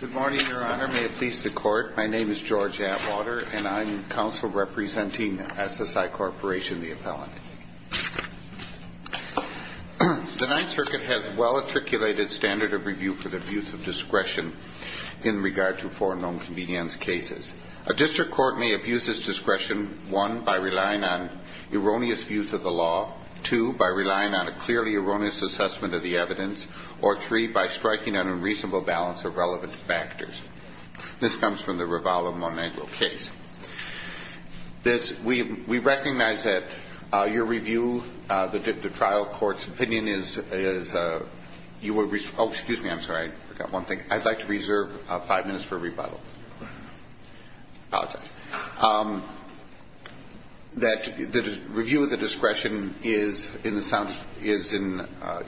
Good morning, Your Honor. May it please the Court, my name is George Atwater and I'm counsel representing SSI Corporation, the appellant. The Ninth Circuit has a well-articulated standard of review for the abuse of discretion in regard to foreign loan convenience cases. A district court may abuse its discretion, one, by relying on erroneous views of the law, two, by relying on a clearly erroneous assessment of the evidence, or three, by striking an unreasonable balance of relevant factors. This comes from the Revala-Monegro case. We recognize that your review, the trial court's opinion is, oh, excuse me, I'm sorry, I forgot one thing. I'd like to reserve five minutes for you.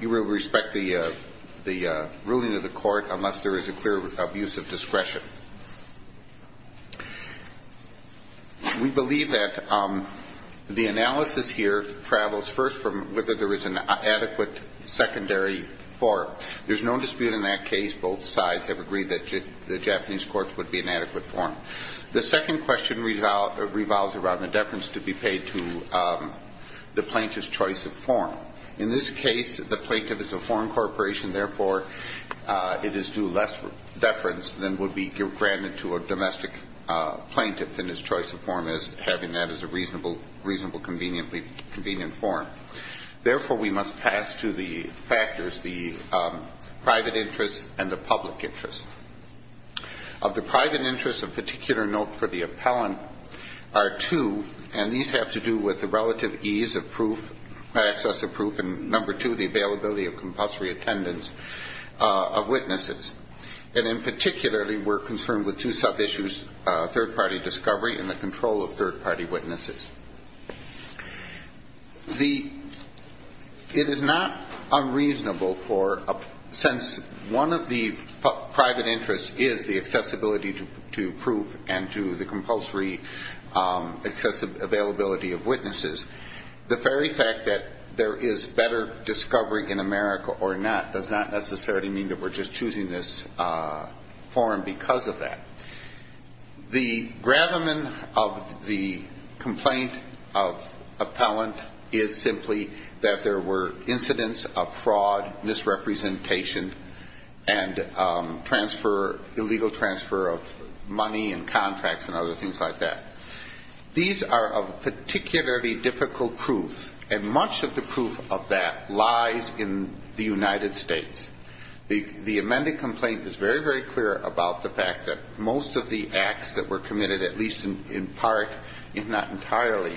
You will respect the ruling of the court unless there is a clear abuse of discretion. We believe that the analysis here travels first from whether there is an adequate secondary form. There's no dispute in that case. Both sides have agreed that the Japanese courts would be an adequate form. The second question revolves around the deference to be paid to the plaintiff's choice of form. In this case, the plaintiff is a foreign corporation, therefore, it is due less deference than would be granted to a domestic plaintiff in his choice of form as having that as a reasonable convenient form. Therefore, we must pass to the factors the private interest and the public interest. Of the private interest, a particular note for the appellant are two, and these have to do with the relative ease of proof, access of proof, and number two, the availability of compulsory attendance of witnesses. And in particularly, we're concerned with two sub-issues, third-party discovery and the control of third-party witnesses. It is not unreasonable, since one of the private interests is the accessibility to proof and to the compulsory availability of witnesses, the very fact that there is better discovery in America or not does not necessarily mean that we're just choosing this form because of that. The complaint of appellant is simply that there were incidents of fraud, misrepresentation, and transfer, illegal transfer of money and contracts and other things like that. These are of particularly difficult proof, and much of the proof of that lies in the United States. The amended complaint is very, very clear about the fact that most of the acts that were committed, at least in part, if not entirely,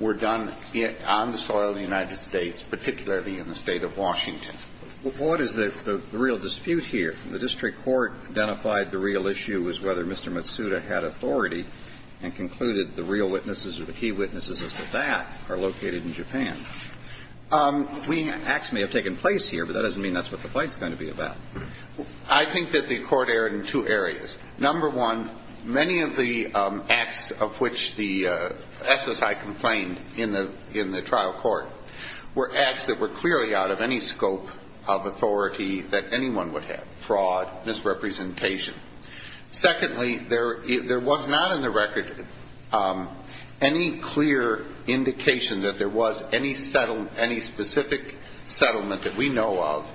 were done on the soil of the United States, particularly in the State of Washington. Well, what is the real dispute here? The district court identified the real issue as whether Mr. Matsuda had authority and concluded the real witnesses or the key witnesses as to that are located in Japan. Acts may have taken place here, but that doesn't mean that's what the complaint is going to be about. I think that the court erred in two areas. Number one, many of the acts of which the SSI complained in the trial court were acts that were clearly out of any scope of authority that anyone would have, fraud, misrepresentation. Secondly, there was not in the record any clear indication that there was any specific settlement that we know of,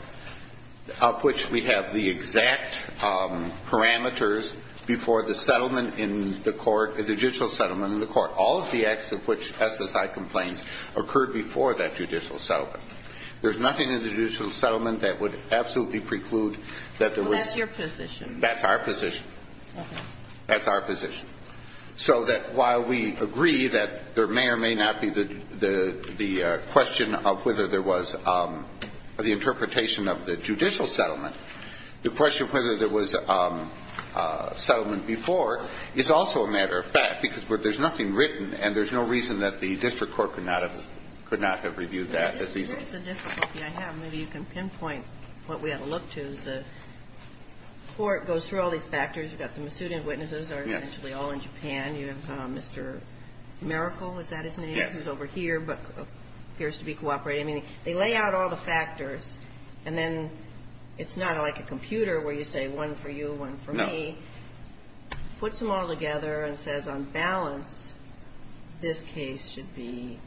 of which we have the exact parameters before the settlement in the court, the judicial settlement in the court. All of the acts of which SSI complains occurred before that judicial settlement. There's nothing in the judicial settlement that would absolutely preclude that there was... Well, that's your position. That's our position. That's our position. So that while we agree that there may or may not be the question of whether there was the interpretation of the judicial settlement, the question of whether there was settlement before is also a matter of fact, because there's nothing written, and there's no reason that the district court could not have reviewed that as the... Here's the difficulty I have. Maybe you can pinpoint what we ought to look to. The court goes through all these factors. You've got the Masudian witnesses. Yes. They're essentially all in Japan. You have Mr. Miracle. Is that his name? Yes. He's over here, but appears to be cooperating. I mean, they lay out all the factors, and then it's not like a computer where you say one for you, one for me. No. Puts them all together and says, on balance, this case should be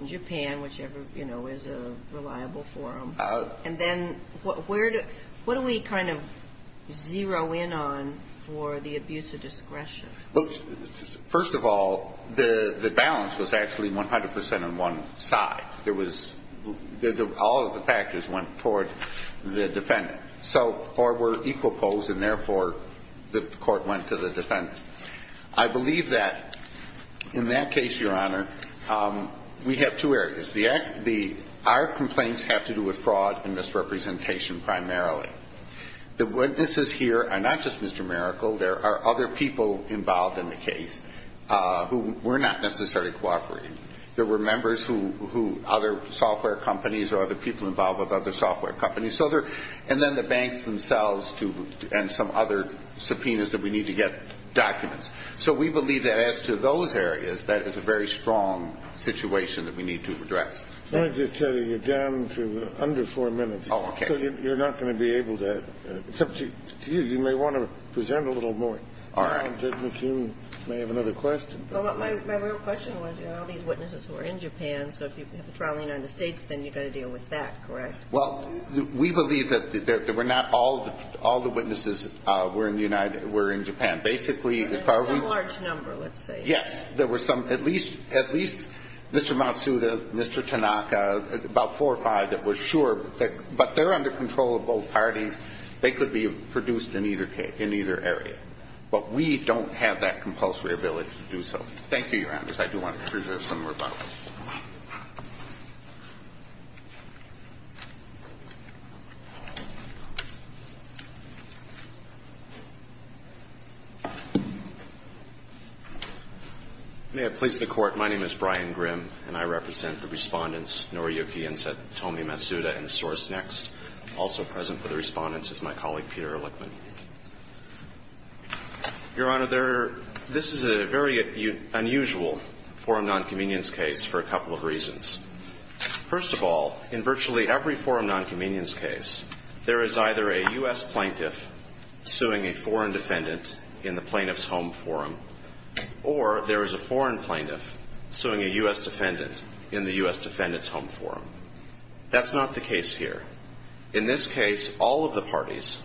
in Japan, whichever, you know, is a reliable forum. And then where do we kind of zero in on for the abuse of discretion? First of all, the balance was actually 100 percent on one side. There was... All of the factors went toward the defendant. Or were equal poles, and therefore, the court went to the defendant. I believe that in that case, Your Honor, we have two areas. Our complaints have to do with fraud and misrepresentation primarily. The witnesses here are not just Mr. Miracle. There are other people involved in the case who were not necessarily cooperating. There were members who... Other software companies or other people involved with other software companies, and then the banks themselves and some other subpoenas that we need to get documents. So we believe that as to those areas, that is a very strong situation that we need to address. Let me just tell you, you're down to under four minutes. Oh, okay. So you're not going to be able to... Except to you. You may want to present a little more. All right. Judge McKeon may have another question. My real question was, you have all these witnesses who are in Japan, so if you have a trial in the United States, then you've got to deal with that, correct? Well, we believe that there were not all the witnesses were in Japan. Basically, as far as we... A large number, let's say. Yes. There were some, at least Mr. Matsuda, Mr. Tanaka, about four or five that were sure. But they're under control of both parties. They could be produced in either case, in either area. But we don't have that compulsory ability to do so. Thank you, Your Honor. I do want to preserve some more time. May it please the Court. My name is Brian Grimm, and I represent the Respondents Noriyuki and Satomi Matsuda in SourceNext. Also present for the Respondents is my colleague Peter Lickman. Your Honor, this is a very unusual forum nonconvenience case for a couple of reasons. First of all, in virtually every forum nonconvenience case, there is either a U.S. plaintiff suing a foreign defendant in the plaintiff's home forum, or there is a foreign plaintiff suing a U.S. defendant in the U.S. defendant's home forum. That's not the case here. In this case, all of the parties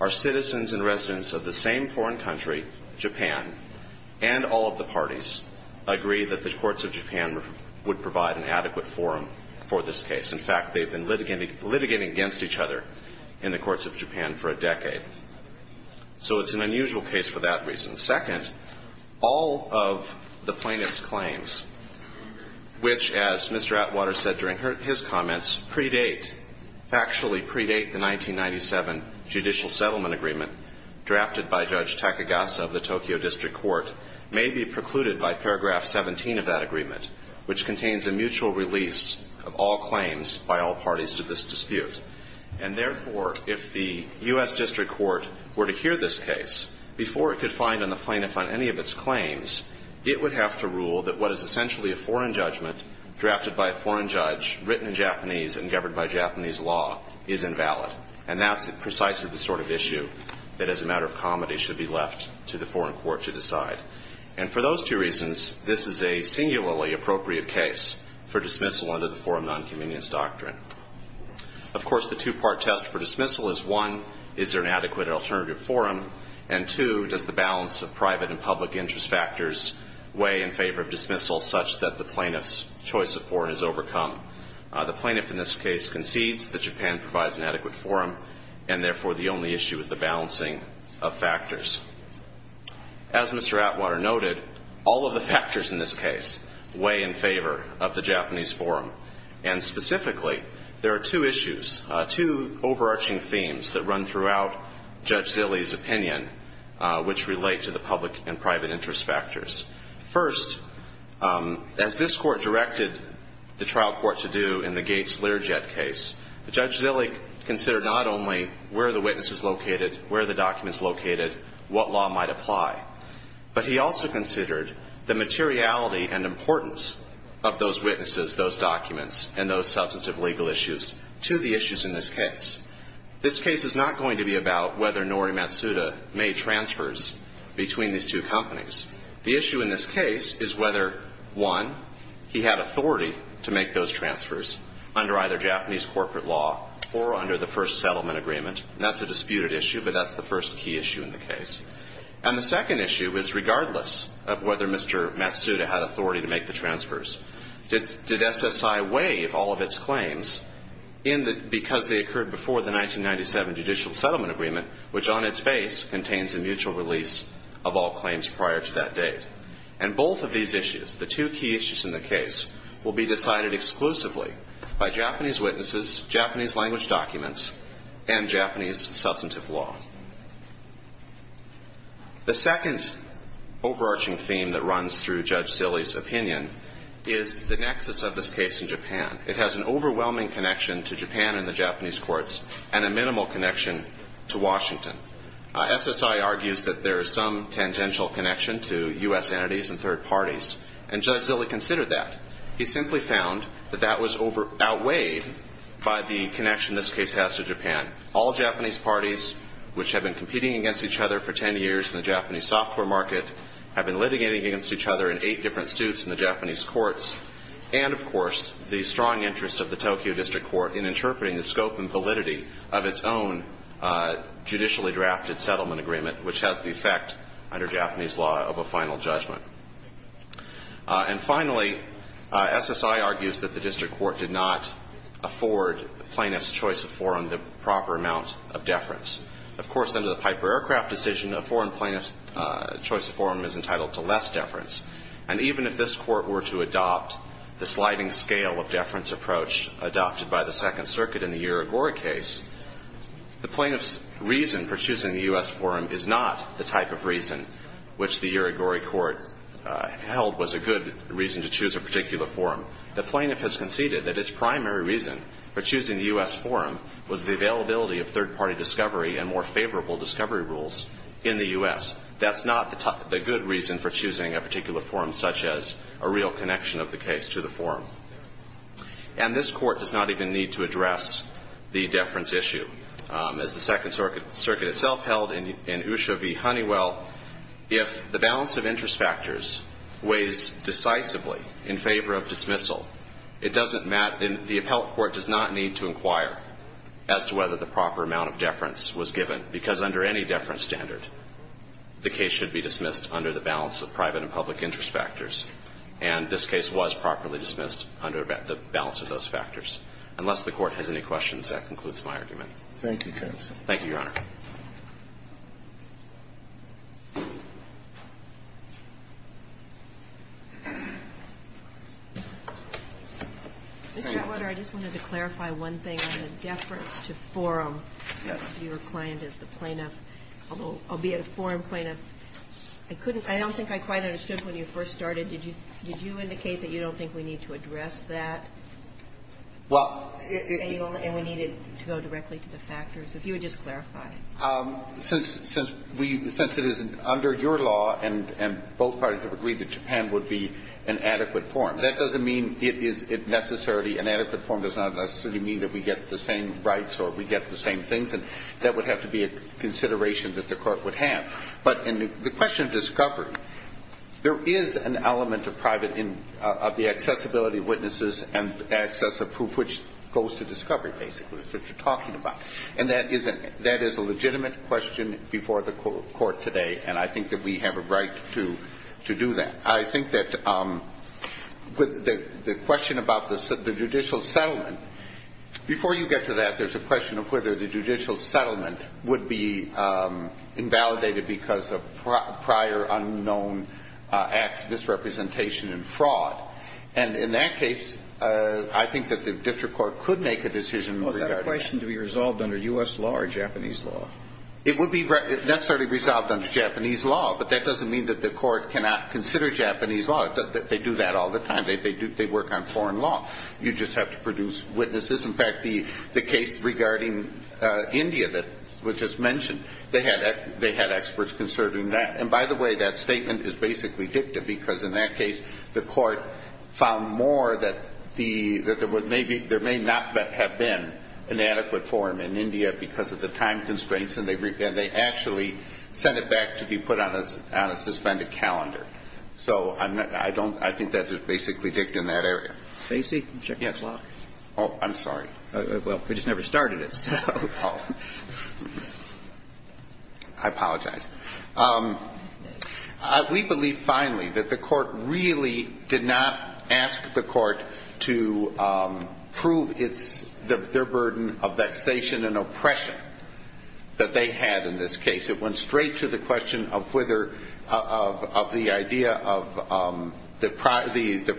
are citizens and residents of the same foreign country, Japan, and all of the parties agree that the courts of Japan would provide an adequate forum for this case. In fact, they've been litigating against each other in the courts of Japan for a decade. So it's an unusual case for that reason. And second, all of the plaintiff's claims, which, as Mr. Atwater said during his comments, predate, factually predate the 1997 judicial settlement agreement drafted by Judge Takagasa of the Tokyo District Court, may be precluded by paragraph 17 of that agreement, which contains a mutual release of all claims by all parties to this dispute. And therefore, if the U.S. District Court were to hear this case before it could find on the plaintiff on any of its claims, it would have to rule that what is essentially a foreign judgment drafted by a foreign judge, written in Japanese and governed by Japanese law, is invalid. And that's precisely the sort of issue that, as a matter of comedy, should be left to the foreign court to decide. And for those two reasons, this is a singularly appropriate case for dismissal under the forum nonconvenience doctrine. Of course, the two-part test for dismissal is, one, is there an adequate alternative forum? And, two, does the balance of private and public interest factors weigh in favor of dismissal such that the plaintiff's choice of forum is overcome? The plaintiff in this case concedes that Japan provides an adequate forum, and therefore the only issue is the balancing of factors. As Mr. Atwater noted, all of the factors in this case weigh in favor of the Japanese forum. And specifically, there are two issues, two overarching themes that run throughout Judge Zillig's opinion, which relate to the public and private interest factors. First, as this court directed the trial court to do in the Gates-Learjet case, Judge Zillig considered not only where the witness is located, where the document is located, what law might apply, but he also considered the materiality and importance of those witnesses, those documents, and those substantive legal issues to the issues in this case. This case is not going to be about whether Nori Matsuda made transfers between these two companies. The issue in this case is whether, one, he had authority to make those transfers under either Japanese corporate law or under the first settlement agreement. That's a disputed issue, but that's the first key issue in the case. And the second issue is regardless of whether Mr. Matsuda had authority to make the transfers, did SSI waive all of its claims because they occurred before the 1997 judicial settlement agreement, which on its face contains a mutual release of all claims prior to that date? And both of these issues, the two key issues in the case, will be decided exclusively by Japanese witnesses, Japanese language documents, and Japanese substantive law. The second overarching theme that runs through Judge Zillig's opinion is the nexus of this case in Japan. It has an overwhelming connection to Japan and the Japanese courts and a minimal connection to Washington. SSI argues that there is some tangential connection to U.S. entities and third parties, and Judge Zillig considered that. He simply found that that was outweighed by the connection this case has to Japan. All Japanese parties, which have been competing against each other for 10 years in the Japanese software market, have been litigating against each other in eight different suits in the Japanese courts, and, of course, the strong interest of the Tokyo District Court in interpreting the scope and validity of its own judicially drafted settlement agreement, which has the effect, under Japanese law, of a final judgment. And, finally, SSI argues that the District Court did not afford plaintiffs' choice of forum the proper amount of deference. Of course, under the Piper Aircraft decision, a foreign plaintiff's choice of forum is entitled to less deference. And even if this Court were to adopt the sliding scale of deference approach adopted by the Second Circuit in the Irigori case, the plaintiff's reason for choosing the U.S. forum is not the type of reason which the Irigori Court held was a good reason to choose a particular forum. The plaintiff has conceded that its primary reason for choosing the U.S. forum was the availability of third-party discovery and more favorable discovery rules in the U.S. That's not the good reason for choosing a particular forum, such as a real connection of the case to the forum. And this Court does not even need to address the deference issue. As the Second Circuit itself held in Usho v. Honeywell, if the balance of interest factors weighs decisively in favor of dismissal, it doesn't matter. The appellate court does not need to inquire as to whether the proper amount of deference was given, because under any deference standard, the case should be dismissed under the balance of private and public interest factors. And this case was properly dismissed under the balance of those factors. Unless the Court has any questions, that concludes my argument. Thank you, counsel. Thank you, Your Honor. Mr. Atwater, I just wanted to clarify one thing on the deference to forum. Yes. To your client as the plaintiff, albeit a foreign plaintiff. I couldn't – I don't think I quite understood when you first started. Did you – did you indicate that you don't think we need to address that? Well, it – And we needed to go directly to the factors. If you would just clarify. Since – since we – since it is under your law and both parties have agreed that Japan would be an adequate forum, that doesn't mean it is necessarily – an adequate forum does not necessarily mean that we get the same rights or we get the same things, and that would have to be a consideration that the Court would have. But in the question of discovery, there is an element of private – of the accessibility of witnesses and access approved, which goes to discovery, basically, which you're talking about. And that is a legitimate question before the Court today, and I think that we have a right to do that. And I think that with the question about the judicial settlement, before you get to that, there's a question of whether the judicial settlement would be invalidated because of prior unknown acts, misrepresentation and fraud. And in that case, I think that the district court could make a decision regarding that. Was that a question to be resolved under U.S. law or Japanese law? It would be necessarily resolved under Japanese law, but that doesn't mean that the Court cannot consider Japanese law. They do that all the time. They work on foreign law. You just have to produce witnesses. In fact, the case regarding India that was just mentioned, they had experts considering that. And by the way, that statement is basically dictative because in that case, the Court found more that there may not have been an adequate forum in India because of the time constraints, and they actually sent it back to be put on a suspended calendar. So I don't – I think that is basically dict in that area. Stacey? Yes. Oh, I'm sorry. Well, we just never started it, so. Oh. I apologize. We believe finally that the Court really did not ask the Court to prove its – their burden of vexation and oppression, that they had in this case. It went straight to the question of whether – of the idea of the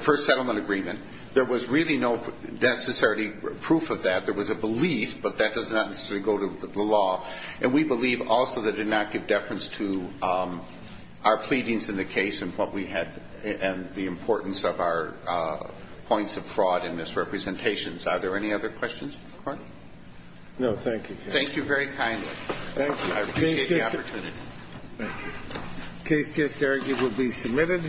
first settlement agreement. There was really no necessary proof of that. There was a belief, but that does not necessarily go to the law. And we believe also that it did not give deference to our pleadings in the case and what we had – and the importance of our points of fraud and misrepresentations. Are there any other questions, Your Honor? No. Thank you. Thank you very kindly. Thank you. I appreciate the opportunity. Thank you. The case just argued will be submitted.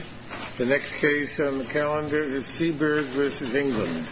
The next case on the calendar is Seabird v. England.